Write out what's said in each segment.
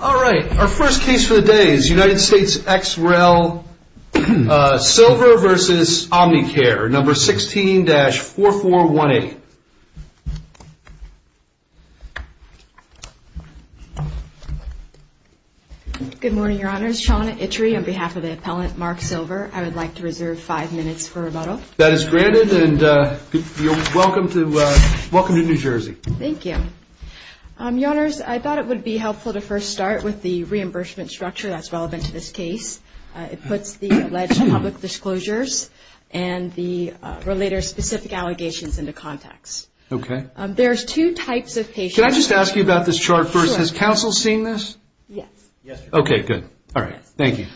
all right our first case for the day is United States x-rail silver versus Omnicare number 16-4418 good morning your honors Shauna Itchery on behalf of the appellant mark silver I would like to reserve five minutes for rebuttal that is granted and welcome to welcome to New Jersey thank you um your honors I would be helpful to first start with the reimbursement structure that's relevant to this case it puts the alleged public disclosures and the relator specific allegations into context okay there's two types of patients I just ask you about this chart first has counsel seen this yes okay good all right thank you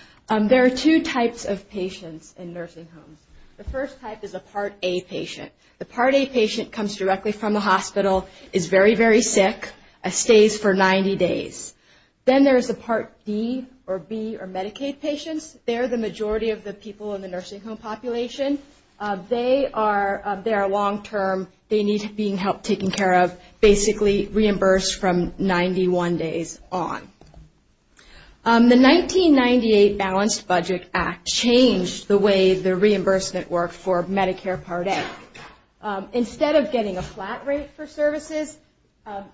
there are two types of patients in nursing homes the first type is a part a patient the part a patient comes directly from the sick a stays for 90 days then there is a part B or B or Medicaid patients they're the majority of the people in the nursing home population they are there a long term they need being helped taking care of basically reimbursed from 91 days on the 1998 balanced budget act changed the way the reimbursement worked for Medicare part a instead of getting a flat rate for services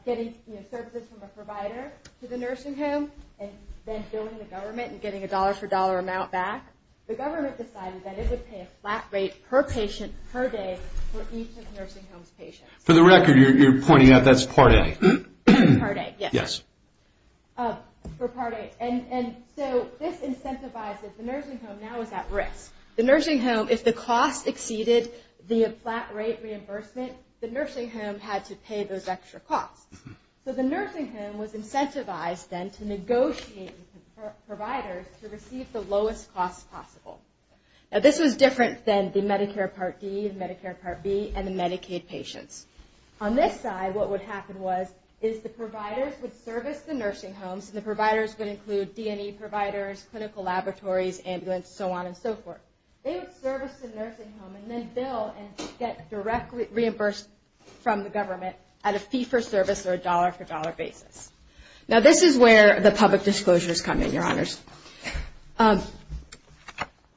getting services from a provider to the nursing home and then filling the government and getting a dollar for dollar amount back the government decided that it would pay a flat rate per patient per day for each of the nursing home's patients for the record you're pointing out that's part a part a yes and so this incentivizes the risk the nursing home if the cost exceeded the flat rate reimbursement the nursing home had to pay those extra costs so the nursing home was incentivized then to negotiate providers to receive the lowest cost possible now this was different than the Medicare Part D and Medicare Part B and the Medicaid patients on this side what would happen was is the providers would service the nursing homes and the providers would include D&E providers clinical laboratories ambulance so on and so forth they would service the nursing home and then bill and get directly reimbursed from the government at a fee for service or a dollar for dollar basis now this is where the public disclosures come in your honors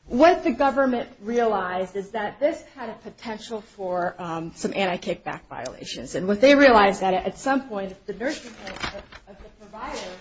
what the government realized is that this had a potential for some anti-kickback violations and what they realized that at some point the nursing home of the providers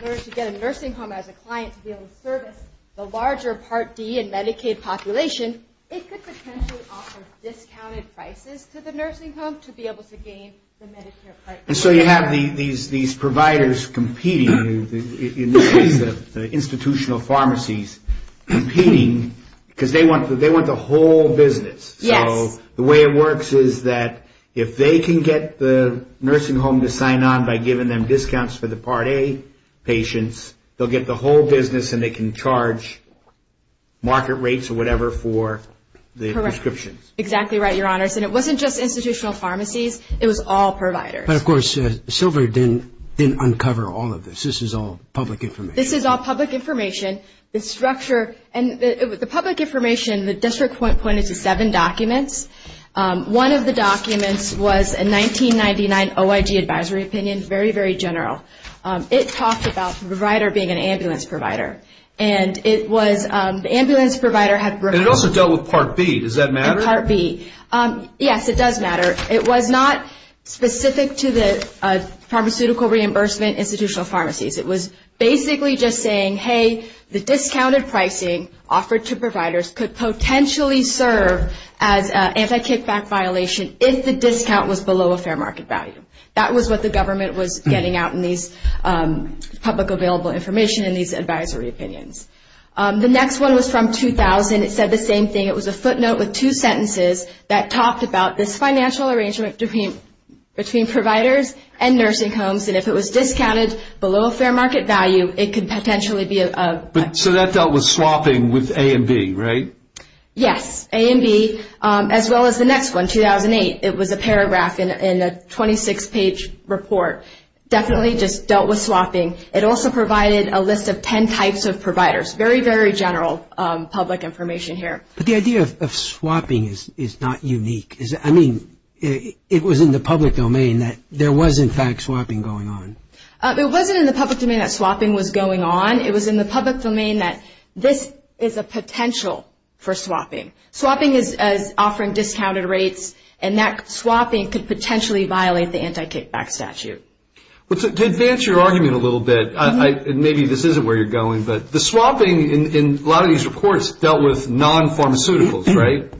in order to get a nursing home as a client to be able to service the larger Part D and Medicaid population it could potentially offer discounted prices to the nursing home to be able to gain the Medicare Part D. So you have these providers competing in this case the institutional pharmacies competing because they want the whole business so the way it works is that if they can get the nursing home to sign on by giving them they can charge market rates or whatever for the prescriptions exactly right your honors and it wasn't just institutional pharmacies it was all providers of course Silver didn't uncover all of this this is all public information this is all public information the structure and the public information the district pointed to seven documents one of the documents was a 1999 OIG advisory opinion very very general it talks about the provider being an ambulance provider and it was the ambulance provider had also dealt with Part B does that matter Part B yes it does matter it was not specific to the pharmaceutical reimbursement institutional pharmacies it was basically just saying hey the discounted pricing offered to providers could potentially serve as an anti-kickback violation if the discount was below a fair market value that was what the government was getting out in these public available information in these advisory opinions the next one was from 2000 it said the same thing it was a footnote with two sentences that talked about this financial arrangement between between providers and nursing homes and if it was discounted below a fair market value it could potentially be a but so that that was swapping with A and B right yes A and B as well as the next one 2008 it was a paragraph in a 26 page report definitely just dealt with swapping it also provided a list of 10 types of providers very very general public information here but the idea of swapping is is not unique is I mean it was in the public domain that there was in fact swapping going on it wasn't in the public domain that swapping was going on it was in the public domain that this is a potential for swapping swapping is as offering discounted rates and that swapping could potentially violate the anti-kickback statute but to advance your argument a little bit I maybe this isn't where you're going but the swapping in a lot of these reports dealt with non pharmaceuticals right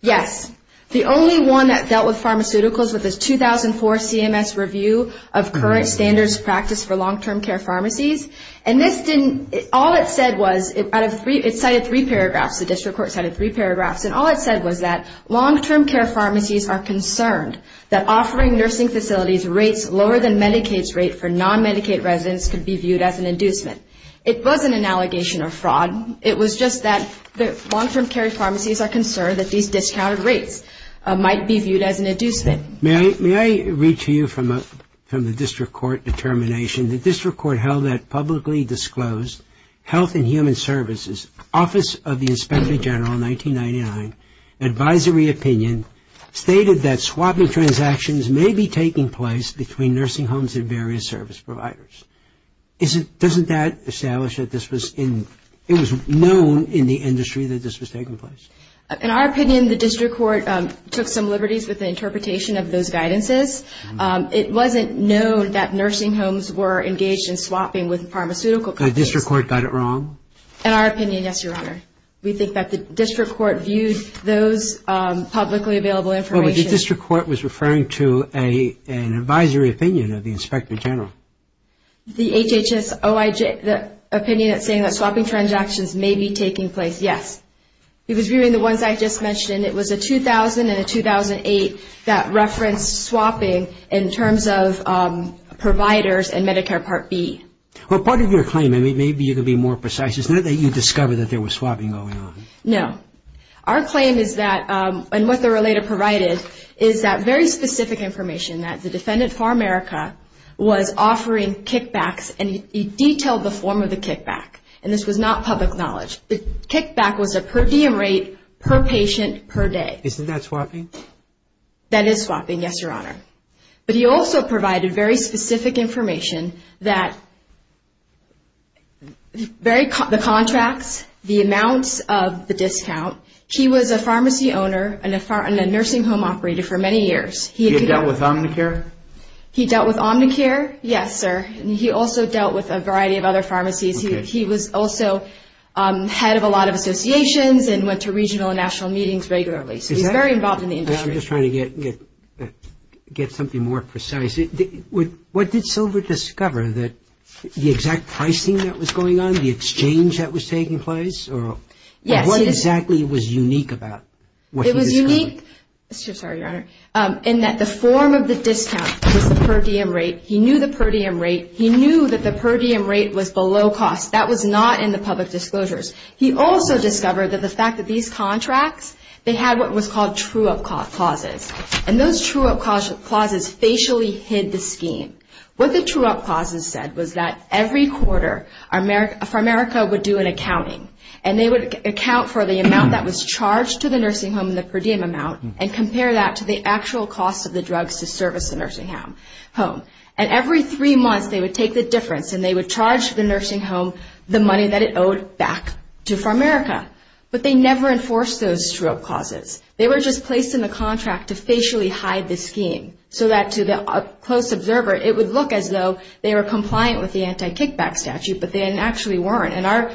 yes the only one that dealt with pharmaceuticals with this 2004 CMS review of current standards practice for long-term care pharmacies and this didn't all it said was it out of three it cited three paragraphs the district court cited three paragraphs and all it said was that long-term care pharmacies are concerned that offering nursing facilities rates lower than Medicaid's rate for non Medicaid residents could be viewed as an inducement it wasn't an allegation of fraud it was just that the long-term care pharmacies are concerned that these discounted rates might be viewed as an inducement may I read to you from a from the district court determination the district court held that publicly disclosed health and human services office of the opinion stated that swapping transactions may be taking place between nursing homes and various service providers is it doesn't that establish that this was in it was known in the industry that this was taking place in our opinion the district court took some liberties with the interpretation of those guidances it wasn't known that nursing homes were engaged in swapping with pharmaceutical the district court got it wrong in our opinion yes your honor we think that the district court viewed those publicly available information the district court was referring to a an advisory opinion of the inspector general the HHS OIG the opinion that saying that swapping transactions may be taking place yes he was viewing the ones I just mentioned it was a 2000 and a 2008 that referenced swapping in terms of our claim is that and what the related provided is that very specific information that the defendant for America was offering kickbacks and he detailed the form of the kickback and this was not public knowledge the kickback was a per diem rate per patient per day isn't that swapping that is swapping yes your honor but he also provided very specific information that the contracts the amounts of the discount he was a pharmacy owner and a nursing home operator for many years he dealt with Omnicare he dealt with Omnicare yes sir he also dealt with a variety of other pharmacies he was also head of a lot of associations and went to regional and I'm just trying to get something more precise what did silver discover that the exact pricing that was going on the exchange that was taking place or what exactly was unique about what he discovered it was unique in that the form of the discount was the per diem rate he knew the per diem rate he knew that the per diem rate was below cost that was not in the public disclosures he also discovered that the fact that these contracts they had what was called true up clauses and those true up clauses facially hid the scheme what the true up clauses said was that every quarter for America would do an accounting and they would account for the amount that was charged to the nursing home the per diem amount and compare that to the actual but they never enforced those true up clauses they were just placed in the contract to facially hide the scheme so that to the close observer it would look as though they were compliant with the anti kickback statute but they actually weren't and our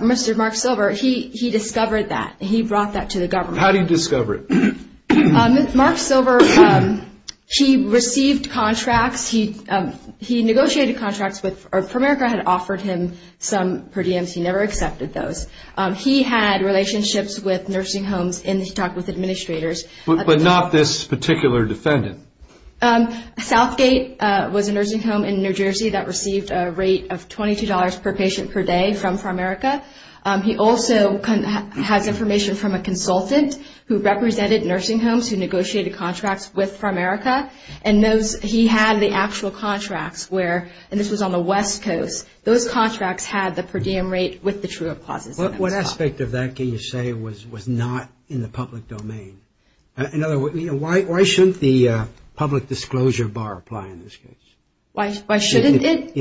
Mr. Mark Silver he discovered that he brought that to the government so how did he discover it Mark Silver he received contracts he negotiated contracts with for America had offered him some per diems he never accepted those he had relationships with nursing homes and he talked with administrators but not this particular defendant Southgate was a nursing home in New Jersey that received a rate of $22 per patient per day from for America he also has information from a consultant who represented nursing homes who negotiated contracts with for America and knows he had the actual contracts where and this was on the West Coast those contracts had the per diem rate with the true up clauses what aspect of that can you say was not in the public domain in other words why shouldn't the public disclosure bar apply in this case why shouldn't it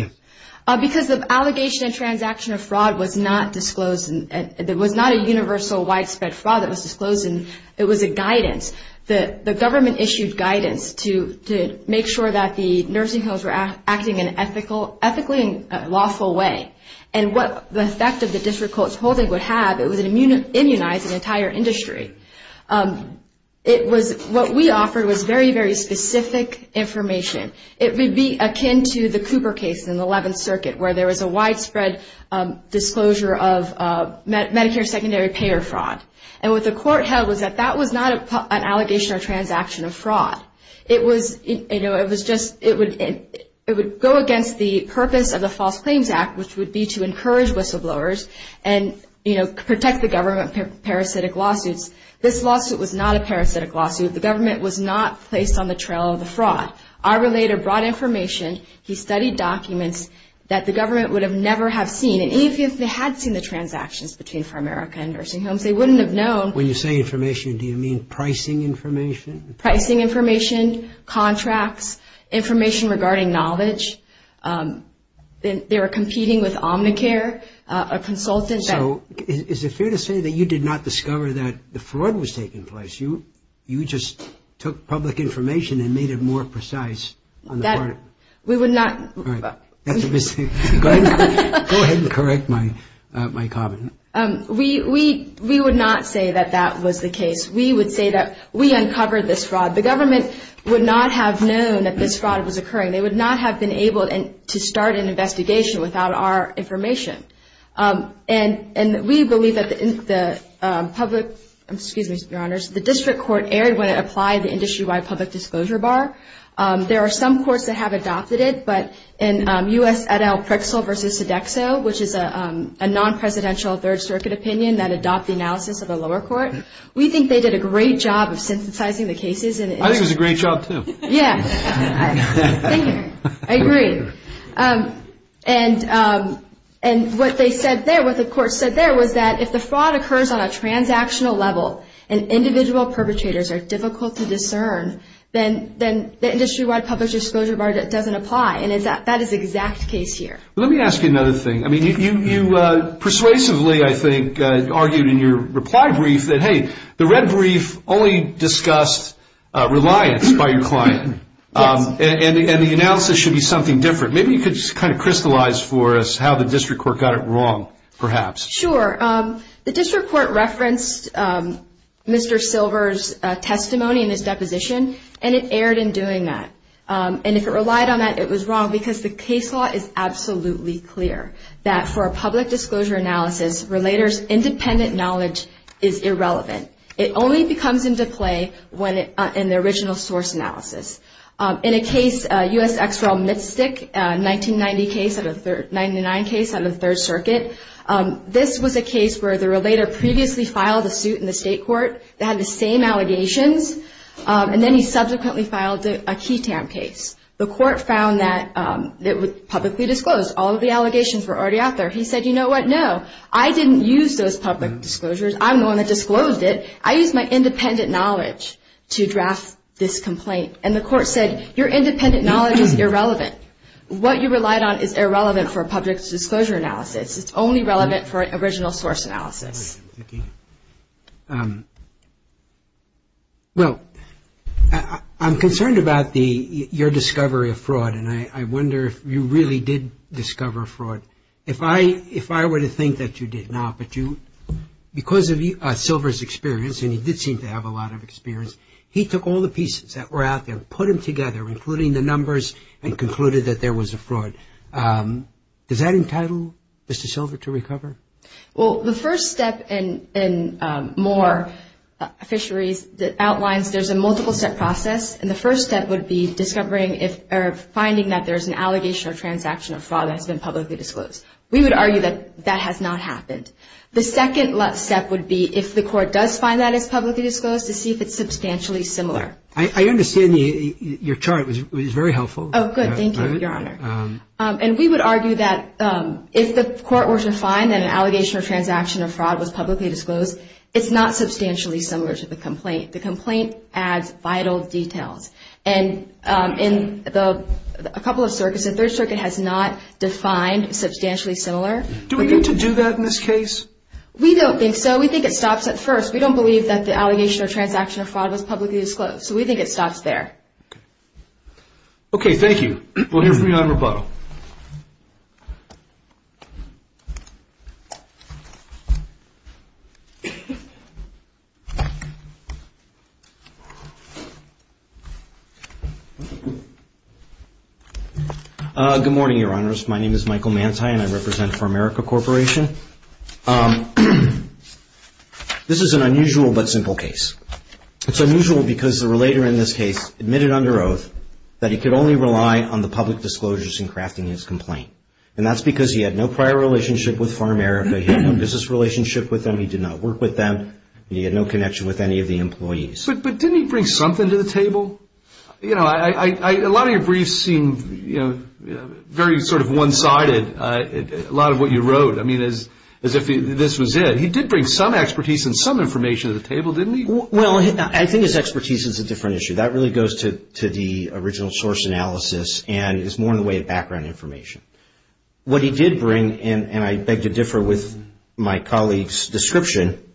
because the allegation and transaction of fraud was not disclosed it was not a universal widespread fraud that was disclosed it was a guidance the government issued guidance to make sure that the nursing homes were acting in an ethical ethically and lawful way and what the effect of the district court's holding would have it was an immunized entire industry it was what we offered was very very specific information it would be akin to the Cooper case in the 11th circuit where there was a widespread disclosure of Medicare secondary payer fraud and what the court held was that that was not an allegation or transaction of fraud it was you know it was just it would it would go against the purpose of the false claims act which would be to encourage whistleblowers and you know protect the government parasitic lawsuits this lawsuit was not a parasitic lawsuit the government was not placed on the trail of the fraud our related brought information he studied documents that the government would have never have seen and even if they had seen the transactions between for America and nursing homes they wouldn't have known when you say information do you mean pricing information pricing information contracts information regarding knowledge they were competing with Omnicare a consultant so is it fair to say that you did not discover that the fraud was taking place you you just took public information and made it more precise that we would not go ahead and correct my my comment we we we would not say that that was the case we would say that we uncovered this fraud the government would not have known that this fraud was occurring they would not have been able to start an investigation without our information and and we believe that the public excuse me your honors the district court aired when it applied the industry-wide public disclosure bar there are some courts that have adopted it but in us at al-prixil versus Sodexo which is a non-presidential version of the district court third-circuit opinion that adopt the analysis of the lower court we think they did a great job of synthesizing the cases and I think it's a great job to yeah I agree and and what they said there what the court said there was that if the fraud occurs on a transactional level and individual perpetrators are difficult to discern then then the industry-wide public disclosure bar that doesn't apply and is that that is exact case here let me ask you another thing I mean if you you persuasively I think argued in your reply brief that hey the red brief only discussed reliance by your client and the analysis should be something different maybe you could just kind of crystallize for us how the district court got it wrong perhaps sure the district court referenced Mr. Silver's testimony in his deposition and it aired in doing that and if it relied on that it was wrong because the case law is absolutely clear that for a public disclosure analysis relators independent knowledge is irrelevant it only becomes into play when it in the original source analysis in a case u.s. extra mystic 1990 case of a third 99 case on the Third Circuit this was a case where the relator previously filed a suit in the state court that had the same allegations and then he subsequently filed a key tamp case the court found that it would publicly disclosed all of the allegations were already out there he said you know what no I didn't use those public disclosures I'm the one that disclosed it I use my independent knowledge to draft this complaint and the court said your independent knowledge is irrelevant what you relied on is irrelevant for a public disclosure analysis it's only relevant for an original source analysis well I'm concerned about the your discovery of fraud and I wonder if you really did discover fraud if I if I were to think that you did not but you because of you Silvers experience and he did seem to have a lot of experience he took all the pieces that were out there put them together including the numbers and concluded that there was a fraud does that entitle Mr. Silver to recover well the first step in a more fisheries outlines there's a multiple set process and the first step would be discovering if finding that there's an allegation of transaction of fraud has been publicly disclosed we would argue that that has not happened the second last step would be if the court does find that is publicly disclosed to see if it's substantially similar I understand your chart was very helpful and we would argue that if the court were to find an allegation of transaction of fraud was publicly disclosed it's not substantially similar to the complaint the complaint as vital details and in the a couple of circus a third circuit has not defined substantially similar to do that in this case we don't think so we think it stops at first we don't believe that the allegation of transaction of fraud was publicly disclosed so we think it stops there okay thank you we'll hear from you on rebuttal good morning your honors my name is Michael Manti and I represent for America Corporation this is an unusual but simple case it's unusual because the relator in this case admitted under oath that he could only rely on the public disclosures in crafting his complaint and that's because he had no prior relationship with for America he had no business relationship with them he did not work with them he had no connection with any of the employees but didn't he bring something to the table you know I a lot of your briefs seemed you know very sort of one-sided a lot of what you wrote I mean as if this was it he did bring some expertise and some information to the table didn't he well I think his expertise is a different issue that really goes to the original source analysis and it's more in the way of background information what he did bring and I beg to differ with my colleagues description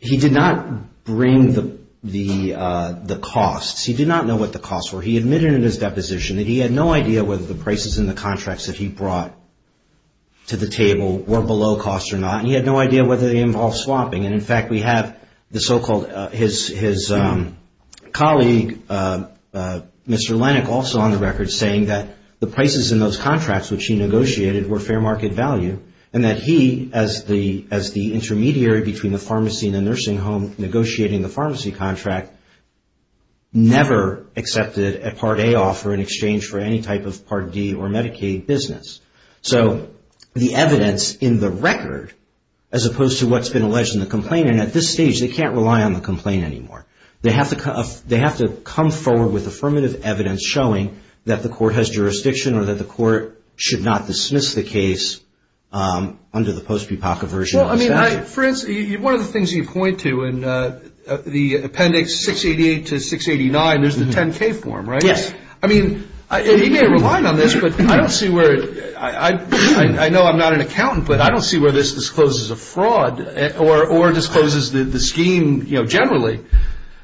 he did not bring the costs he did not know what the costs were he admitted in his deposition that he had no idea whether the prices in the contracts that he brought to the table were below cost or not he had no idea whether they involve swapping and in fact we have the so-called his colleague Mr. Lennox also on the record saying that the prices in those contracts which he negotiated were fair market value and that he as the intermediary between the pharmacy and the nursing home negotiating the pharmacy contract never accepted a Part A offer in exchange for any type of Part D or Medicaid business so the evidence in the record as opposed to what's been alleged in the complaint and at this stage they can't rely on the complaint anymore they have to come they have to come forward with affirmative evidence showing that the court has jurisdiction or that the court should not dismiss the case under the post-papaka version well I mean I for instance one of the things you point to in the appendix 688 to 689 there's the 10k form right yes I mean he may have relied on this but I don't see where I know I'm not an accountant but I don't see where this discloses a fraud or discloses the scheme you know generally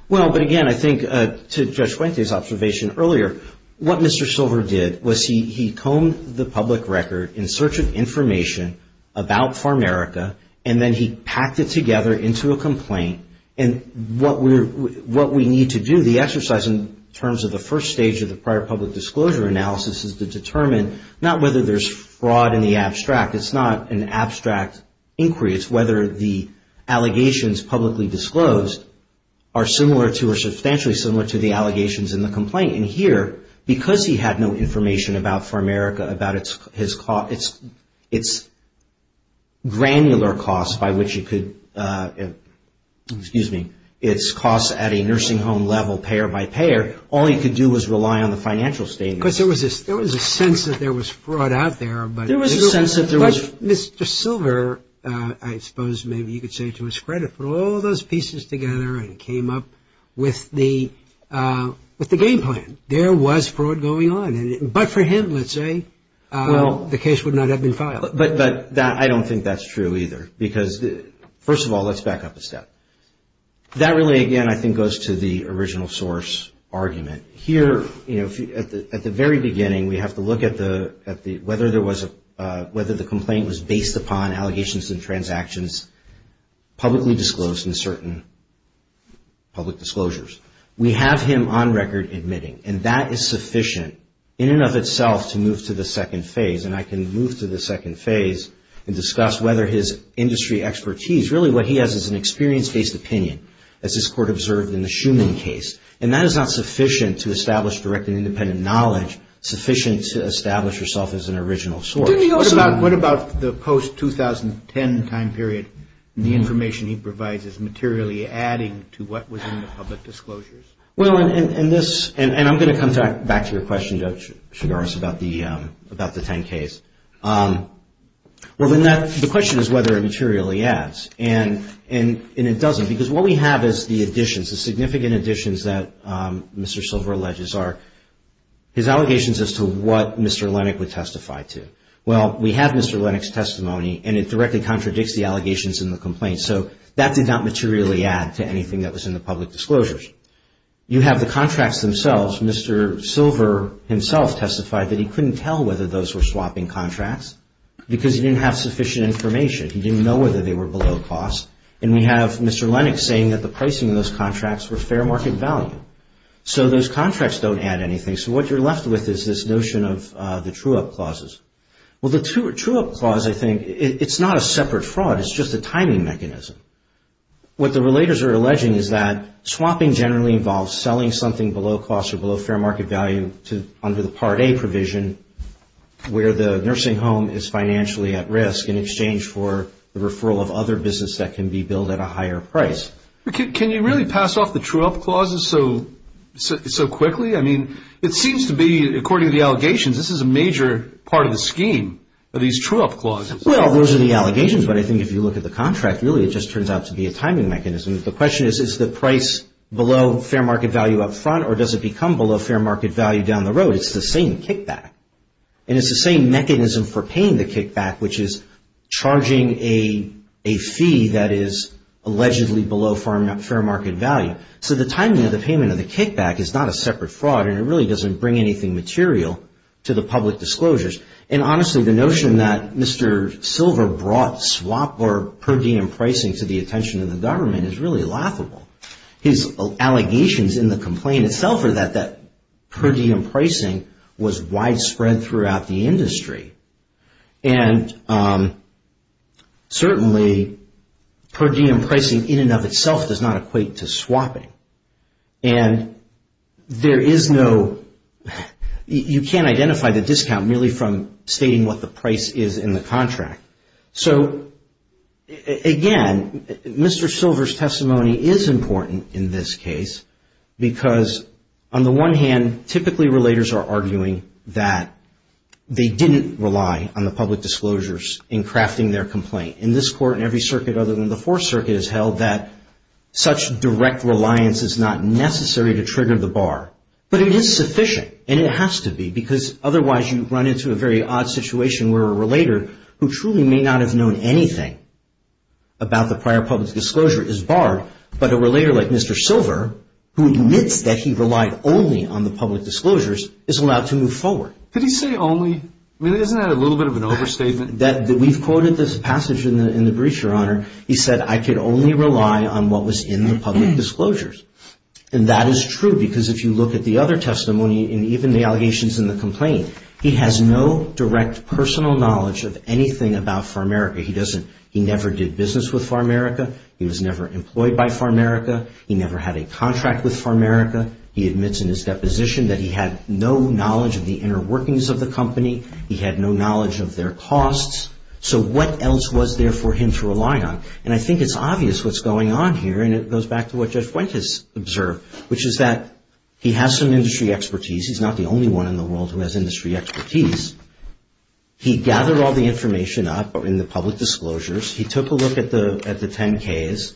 well but again I think to Judge Fuente's observation earlier what Mr. Silver did was he combed the public record in search of information about Pharmaerica and then he packed it together into a complaint and what we need to do the exercise in terms of the first stage of the prior public disclosure analysis is to determine not whether there's fraud in the abstract it's not an abstract inquiry it's whether the allegations publicly disclosed are similar to or substantially similar to the allegations in the complaint and here because he had no information about Pharmaerica about its granular costs by which you could excuse me its costs at a nursing home level payer by payer all he could do was rely on the financial statements there was a sense that there was fraud out there but Mr. Silver I suppose maybe you could say to his credit put all those pieces together and came up with the game plan there was fraud going on but for him let's say the case would not have been filed but I don't think that's true either because first of all let's back up a step that really again I think goes to the original source argument here you know at the very beginning we have to look at the whether there was a whether the complaint was based upon allegations and transactions publicly disclosed in certain public disclosures we have him on record admitting and that is sufficient in and of itself to move to the second phase and I can move to the second phase and discuss whether his industry expertise really what he has is an experience based opinion as this court observed in the Schumann case and that is not sufficient to establish direct and independent knowledge sufficient to establish yourself as an original source what about the post 2010 time period the information he provides is materially adding to what was in the public disclosures well and this and I'm going to come back to your question Judge Chigars about the 10 case well then the question is whether it materially adds and it doesn't because what we have is the additions the significant additions that Mr. Silver alleges are his allegations as to what Mr. Lennox would testify to well we have Mr. Lennox testimony and it directly contradicts the allegations in the complaint so that did not materially add to anything that was in the public disclosures you have the contracts themselves Mr. Silver himself testified that he couldn't tell whether those were swapping contracts because he didn't have sufficient information he didn't know whether they were below cost and we have Mr. Lennox saying that the pricing of those contracts were fair market value so those contracts don't add anything so what you're left with is this notion of the true up clauses well the true up clause I think it's not a separate fraud it's just a timing mechanism what the relators are alleging is that swapping generally involves selling something below cost or below fair market value to under the part A provision where the nursing home is financially at risk in exchange for the referral of other business that can be billed at a higher price can you really pass off the true up clauses so quickly I mean it seems to be according to the allegations this is a major part of the scheme of these true up clauses well those are the allegations but I think if you look at the contract really it just turns out to be a timing mechanism the question is is the price below fair market value up front or does it become below fair market value down the road it's the same kickback and it's the same mechanism for paying the kickback which is charging a fee that is allegedly below fair market value so the timing of the payment of the kickback is not a separate fraud and it really doesn't bring anything material to the public disclosures and honestly the notion that Mr. Silver brought swap or per diem pricing to the attention of the government is really laughable his allegations in the complaint itself are that per diem pricing was widespread throughout the industry and certainly per diem pricing in and of itself does not equate to swapping and there is no you can't identify the discount merely from stating what the price is in the contract so again Mr. Silver's testimony is important in this case because on the one hand typically relators are arguing that they didn't rely on the public disclosures in crafting their complaint in this court and every circuit other than the fourth circuit is held that such direct reliance is not necessary to trigger the bar but it is sufficient and it has to be because otherwise you run into a very odd situation where a relator who truly may not have known anything about the prior public disclosure is barred but a relator like Mr. Silver who admits that he relied only on the public disclosures is allowed to move forward so could he say only I mean isn't that a little bit of an overstatement that we've quoted this passage in the in the brief your honor he said I could only rely on what was in the public disclosures and that is true because if you look at the other testimony and even the allegations in the complaint he has no direct personal knowledge of anything about Farmerica he doesn't he never did business with Farmerica he was never employed by Farmerica he never had a contract with Farmerica he admits in his deposition that he had no knowledge of the inner workings of Farmerica he had no knowledge of the inner workings of the company he had no knowledge of their costs so what else was there for him to rely on and I think it's obvious what's going on here and it goes back to what Judge Fuentes observed which is that he has some industry expertise he's not the only one in the world who has industry expertise he gathered all the information up in the public disclosures he took a look at the 10ks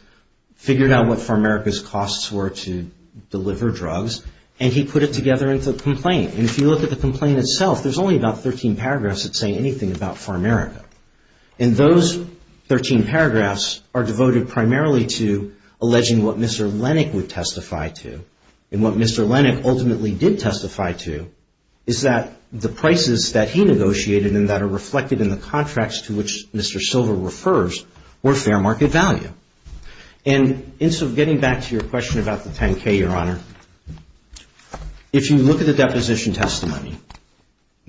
figured out what Farmerica's costs were to deliver drugs and he put it together into a complaint and if you look at the complaint itself there's only about 13 paragraphs that say anything about Farmerica and those 13 paragraphs are devoted primarily to alleging what Mr. Lennick would testify to and what Mr. Lennick ultimately did testify to is that the prices that he negotiated and that are reflected in the contracts to which Mr. Silver refers were fair market value and so getting back to your question about the 10k your honor if you look at the deposition testimony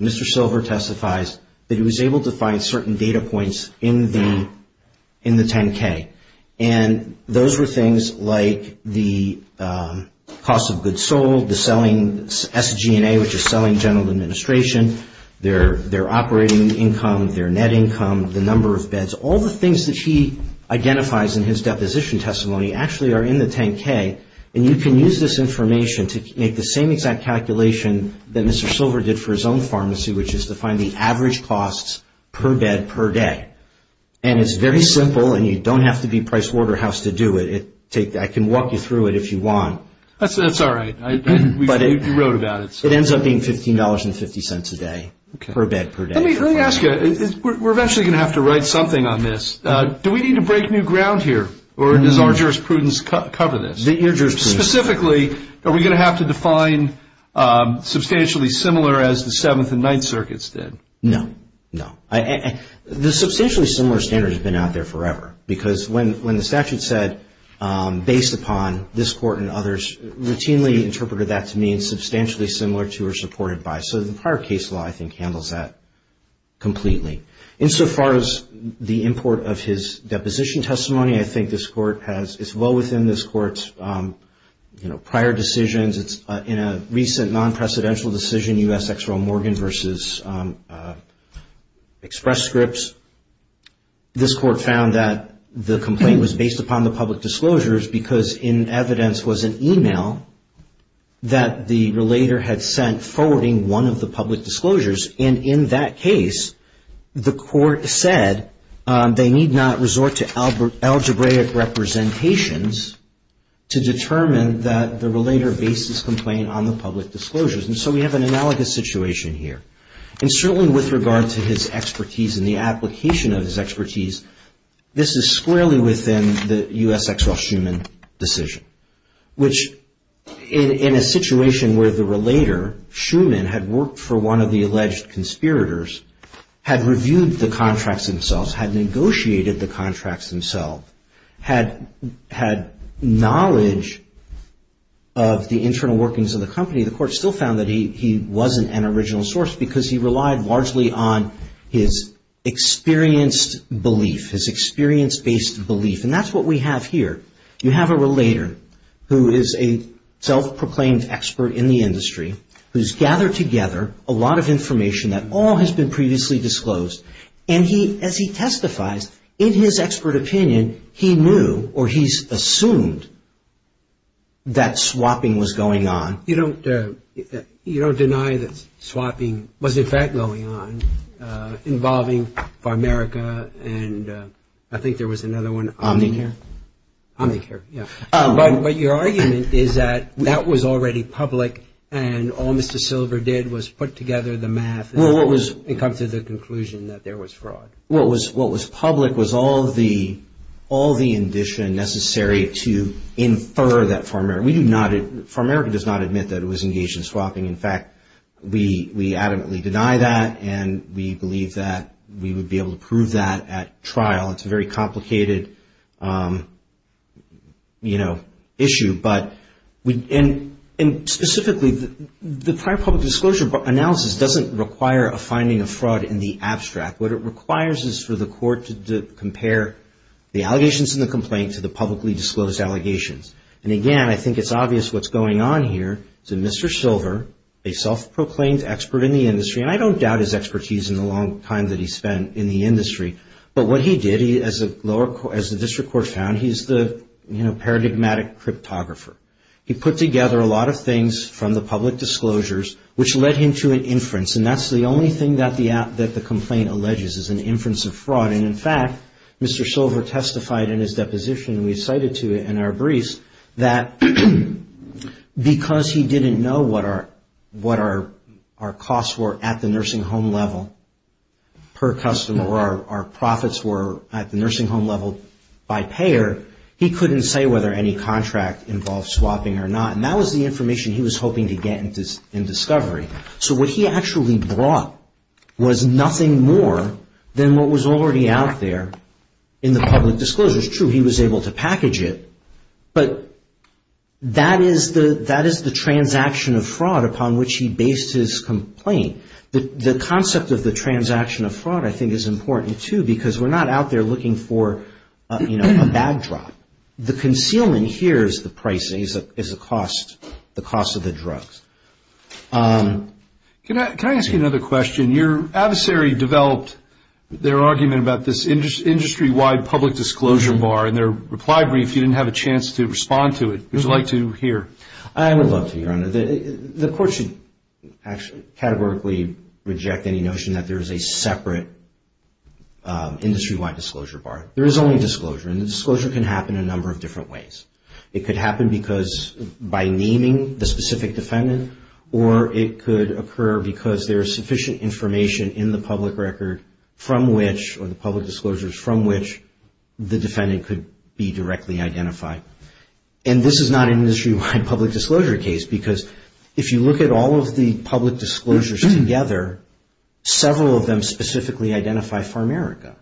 Mr. Silver testifies that he was able to find certain data points in the 10k and those were things like the cost of goods sold, the selling SG&A which is selling general administration, their operating income, their net income, the number of beds all the things that he identifies in his deposition testimony actually are in the 10k and you can use this information to make the same exact calculation that Mr. Silver did for his own pharmacy which is to find the average costs per bed per day and it's very simple and you don't have to be Pricewaterhouse to do it I can walk you through it if you want it ends up being $15.50 a day per bed per day routinely interpreted that to mean substantially similar to or supported by so the prior case law I think handles that completely. Insofar as the import of his deposition testimony I think this court has it's well within this court's you know prior decisions it's in a recent non-precedential decision U.S. Exeral Morgan versus Express Scripts. This court found that the complaint was based upon the public disclosures because in evidence was an email that the relator had sent forwarding one of the public disclosures and in that case the court said they need not resort to algebraic representations to determine that the relator based this complaint on the public disclosures and so we have an analogous situation here. And certainly with regard to his expertise and the application of his expertise this is squarely within the U.S. Exral Schuman decision which in a situation where the relator Schuman had worked for one of the alleged conspirators had reviewed the contracts themselves had negotiated the contracts themselves had knowledge of the internal workings of the company the court still found that he wasn't an original source because he relied largely on his experienced belief his experience based belief and that's what we have here. You have a relator who is a self-proclaimed expert in the industry who's gathered together a lot of information that all has been previously disclosed and he as he testifies in his expert opinion he knew or he's assumed that swapping was going on. You don't deny that swapping was in fact going on involving Farmerica and I think there was another one. Omnicare. Omnicare, yeah. But your argument is that that was already public and all Mr. Silver did was put together the math and come to the conclusion that there was fraud. What was public was all the all the indition necessary to infer that Farmerica, we do not, Farmerica does not admit that it was engaged in swapping. In fact, we adamantly deny that and we believe that we would be able to prove that at trial. It's a very complicated, you know, issue but we and specifically the prior public disclosure analysis doesn't require a finding of fraud in the abstract. What it requires is for the court to compare the allegations in the complaint to the publicly disclosed allegations. And again, I think it's obvious what's going on here. So Mr. Silver, a self-proclaimed expert in the industry and I don't doubt his expertise in the long time that he spent in the industry. But what he did, as the district court found, he's the, you know, paradigmatic cryptographer. He put together a lot of things from the public disclosures which led him to an inference and that's the only thing that the complaint alleges is an inference of fraud. And in fact, Mr. Silver testified in his deposition, we cited to it in our briefs, that because he didn't know what our costs were at the nursing home level per customer or our profits were at the nursing home level by payer, he couldn't say whether any contract involved swapping or not. And that was the information he was hoping to get in discovery. So what he actually brought was nothing more than what was already out there in the public disclosures. True, he was able to package it but that is the transaction of fraud upon which he based his complaint. The concept of the transaction of fraud I think is important too because we're not out there looking for, you know, a backdrop. The concealment here is the price, is the cost of the drugs. Can I ask you another question? Your adversary developed their argument about this industry-wide public disclosure bar and their reply brief you didn't have a chance to respond to it. Would you like to hear? I would love to, Your Honor. The court should categorically reject any notion that there is a separate industry-wide disclosure bar. There is only disclosure and disclosure can happen in a number of different ways. It could happen because by naming the specific defendant or it could occur because there is sufficient information in the public record from which or the public disclosures from which the defendant could be directly identified. And this is not an industry-wide public disclosure case because if you look at all of the public disclosures together, several of them specifically identify Pharmaerica.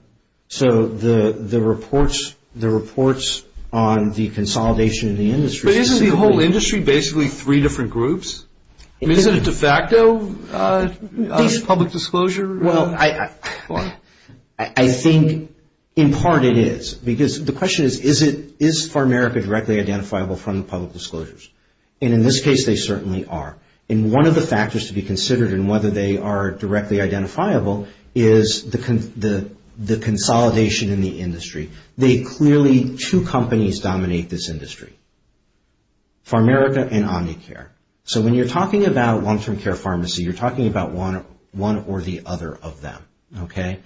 So the reports on the consolidation of the industry. But isn't the whole industry basically three different groups? I mean is it a de facto public disclosure? Well, I think in part it is. Because the question is, is Pharmaerica directly identifiable from the public disclosures? And in this case, they certainly are. And one of the factors to be considered in whether they are directly identifiable is the consolidation in the industry. They clearly, two companies dominate this industry. Pharmaerica and Omnicare. So when you're talking about long-term care pharmacy, you're talking about one or the other of them. Okay?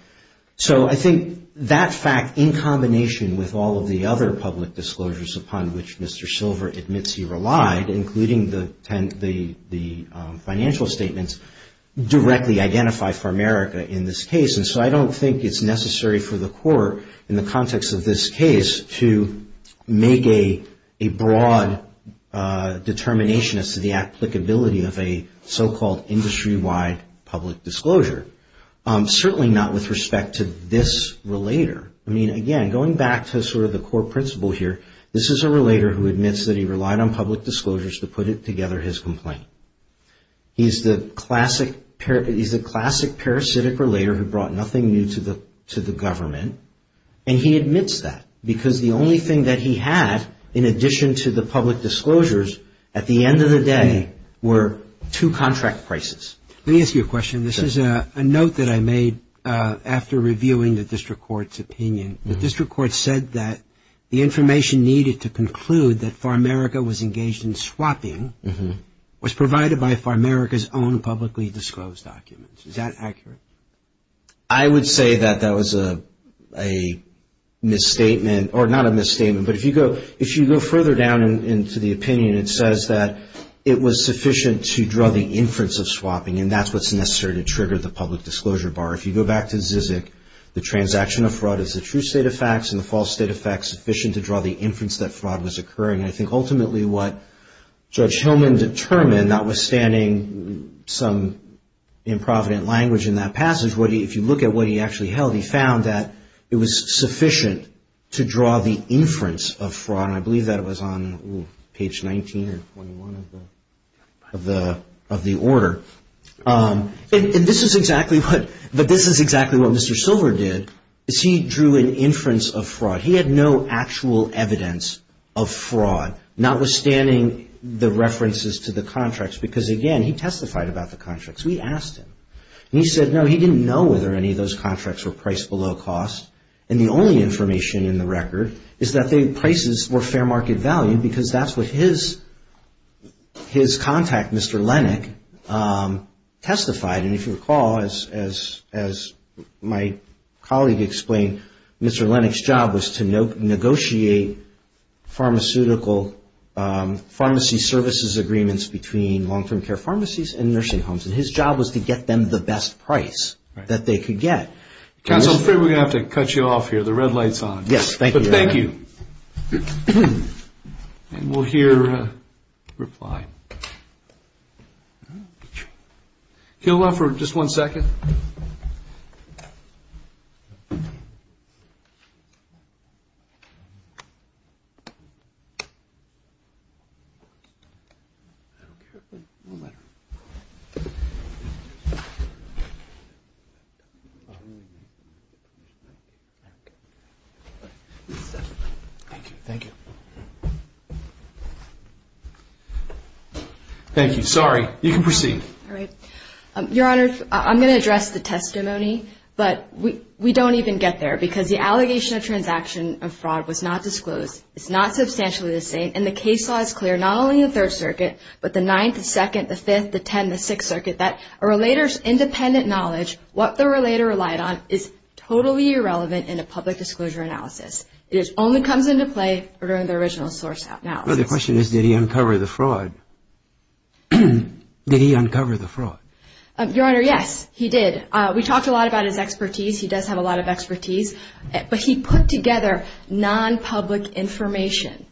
So I think that fact in combination with all of the other public disclosures upon which Mr. Silver admits he relied, including the financial statements, directly identify Pharmaerica in this case. And so I don't think it's necessary for the court in the context of this case to make a broad determination as to the applicability of a so-called industry-wide public disclosure. Certainly not with respect to this relator. I mean, again, going back to sort of the core principle here, this is a relator who admits that he relied on public disclosures to put together his complaint. He's the classic parasitic relator who brought nothing new to the government. And he admits that because the only thing that he had, in addition to the public disclosures, at the end of the day were two contract prices. Let me ask you a question. This is a note that I made after reviewing the district court's opinion. The district court said that the information needed to conclude that Pharmaerica was engaged in swapping was provided by Pharmaerica's own publicly disclosed documents. Is that accurate? I would say that that was a misstatement, or not a misstatement. But if you go further down into the opinion, it says that it was sufficient to draw the inference of swapping, and that's what's necessary to trigger the public disclosure bar. If you go back to Zizek, the transaction of fraud is the true state of facts and the false state of facts sufficient to draw the inference that fraud was occurring. I think ultimately what Judge Hillman determined, notwithstanding some improvident language in that passage, if you look at what he actually held, he found that it was sufficient to draw the inference of fraud, and I believe that was on page 19 or 21 of the order. And this is exactly what Mr. Silver did, is he drew an inference of fraud. He had no actual evidence of fraud, notwithstanding the references to the contracts, because, again, he testified about the contracts. We asked him, and he said, no, he didn't know whether any of those contracts were priced below cost, and the only information in the record is that the prices were fair market value, because that's what his contact, Mr. Lennick, testified. And if you recall, as my colleague explained, Mr. Lennick's job was to negotiate pharmaceutical pharmacy services agreements between long-term care pharmacies and nursing homes, and his job was to get them the best price that they could get. Counsel, I'm afraid we're going to have to cut you off here. The red light's on. Yes, thank you. Thank you. And we'll hear a reply. Thank you. He'll offer just one second. Thank you. Thank you. Thank you. Thank you. Sorry. You can proceed. All right. Your Honor, I'm going to address the testimony, but we don't even get there, and we don't even get to that point. And the case law is clear, not only in the Third Circuit, but the Ninth, the Second, the Fifth, the Tenth, the Sixth Circuit, that a relator's independent knowledge, what the relator relied on, is totally irrelevant in a public disclosure analysis. It only comes into play during the original source analysis. Well, the question is, did he uncover the fraud? Did he uncover the fraud? Your Honor, yes, he did. We talked a lot about his expertise. He does have a lot of expertise. But he put together non-public information.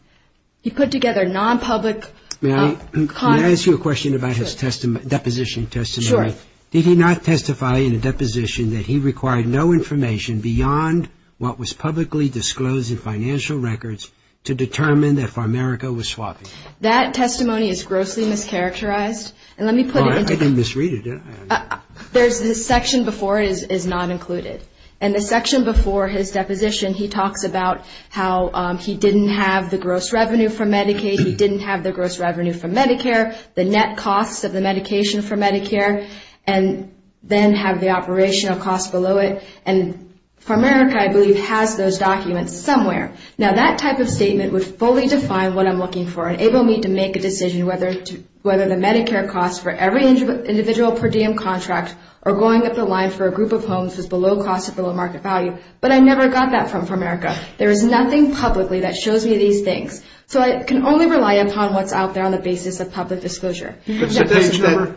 He put together non-public. May I ask you a question about his deposition testimony? Sure. Did he not testify in a deposition that he required no information beyond what was publicly disclosed in financial records to determine that Farmerica was swapping? That testimony is grossly mischaracterized. And let me put it into. I didn't misread it, did I? There's a section before it is not included. In the section before his deposition, he talks about how he didn't have the gross revenue for Medicaid, he didn't have the gross revenue for Medicare, the net costs of the medication for Medicare, and then have the operational costs below it. And Farmerica, I believe, has those documents somewhere. Now, that type of statement would fully define what I'm looking for and enable me to make a decision whether the Medicare costs for every individual per diem contract or going up the line for a group of homes is below cost or below market value. But I never got that from Farmerica. There is nothing publicly that shows me these things. So I can only rely upon what's out there on the basis of public disclosure. That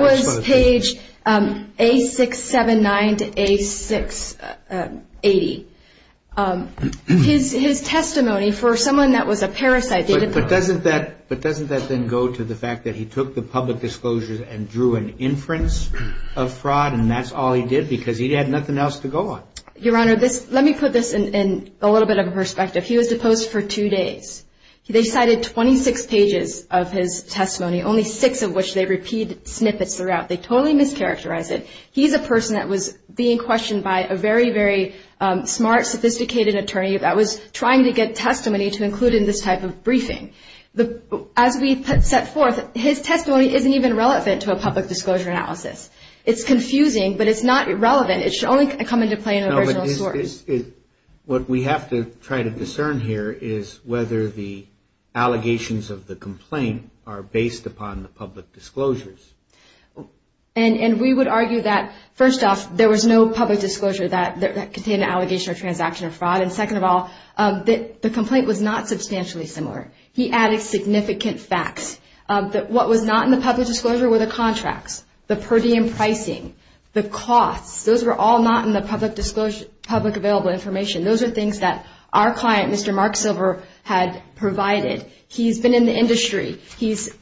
was page A679 to A680. His testimony for someone that was a parasite. But doesn't that then go to the fact that he took the public disclosures and drew an inference of fraud and that's all he did because he had nothing else to go on? Your Honor, let me put this in a little bit of a perspective. He was deposed for two days. They cited 26 pages of his testimony, only six of which they repeat snippets throughout. They totally mischaracterized it. He's a person that was being questioned by a very, very smart, sophisticated attorney that was trying to get testimony to include in this type of briefing. As we set forth, his testimony isn't even relevant to a public disclosure analysis. It's confusing, but it's not irrelevant. It should only come into play in an original story. What we have to try to discern here is whether the allegations of the complaint are based upon the public disclosures. And we would argue that, first off, there was no public disclosure that contained an allegation or transaction of fraud, and second of all, the complaint was not substantially similar. He added significant facts. What was not in the public disclosure were the contracts, the per diem pricing, the costs. Those were all not in the public available information. Those are things that our client, Mr. Mark Silver, had provided. He's been in the industry. He's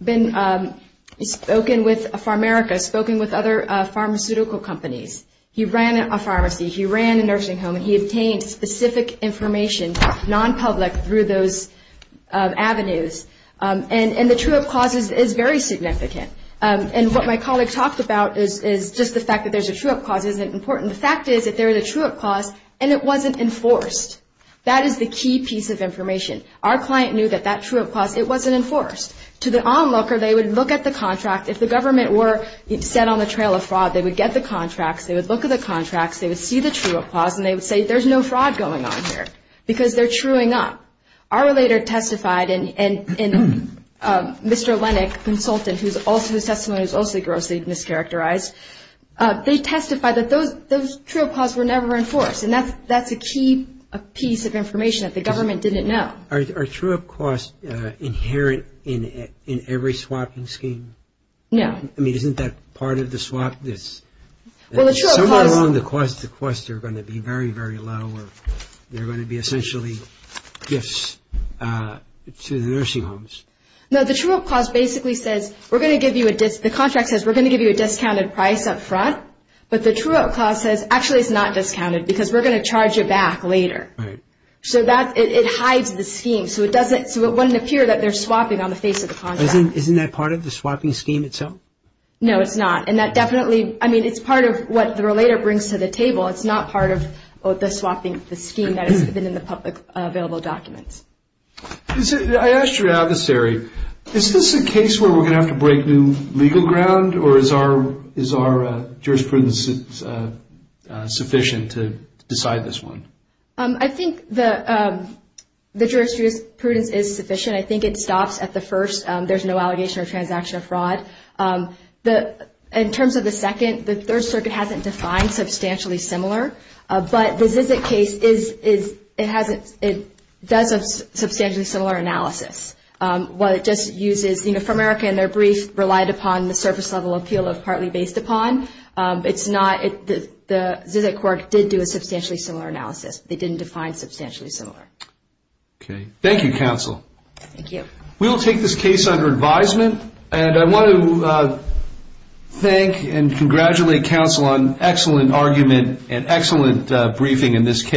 spoken with Pharmaerica, spoken with other pharmaceutical companies. He ran a pharmacy. He ran a nursing home, and he obtained specific information, non-public, through those avenues. And the true-up clause is very significant. And what my colleague talked about is just the fact that there's a true-up clause isn't important. The fact is that there is a true-up clause, and it wasn't enforced. That is the key piece of information. Our client knew that that true-up clause, it wasn't enforced. To the onlooker, they would look at the contract. If the government were set on the trail of fraud, they would get the contracts, they would look at the contracts, they would see the true-up clause, and they would say there's no fraud going on here because they're truing up. Our relator testified, and Mr. Lenick, consultant, whose testimony was also grossly mischaracterized, they testified that those true-up clauses were never enforced, and that's a key piece of information that the government didn't know. Are true-up clauses inherent in every swapping scheme? No. I mean, isn't that part of the swap? Somewhere along the quest, the quests are going to be very, very low. They're going to be essentially gifts to the nursing homes. No, the true-up clause basically says we're going to give you a discounted price up front, but the true-up clause says actually it's not discounted because we're going to charge you back later. So it hides the scheme, so it wouldn't appear that they're swapping on the face of the contract. Isn't that part of the swapping scheme itself? No, it's not. And that definitely, I mean, it's part of what the relator brings to the table. It's not part of the swapping scheme that has been in the public available documents. I asked your adversary, is this a case where we're going to have to break new legal ground, or is our jurisprudence sufficient to decide this one? I think the jurisprudence is sufficient. I think it stops at the first, there's no allegation or transaction of fraud. In terms of the second, the Third Circuit hasn't defined substantially similar, but the ZZIT case does a substantially similar analysis. What it just uses, you know, for America in their brief, relied upon the surface-level appeal of partly based upon. It's not, the ZZIT court did do a substantially similar analysis. They didn't define substantially similar. Okay. Thank you, counsel. Thank you. We will take this case under advisement, and I want to thank and congratulate counsel on excellent argument and excellent briefing in this case.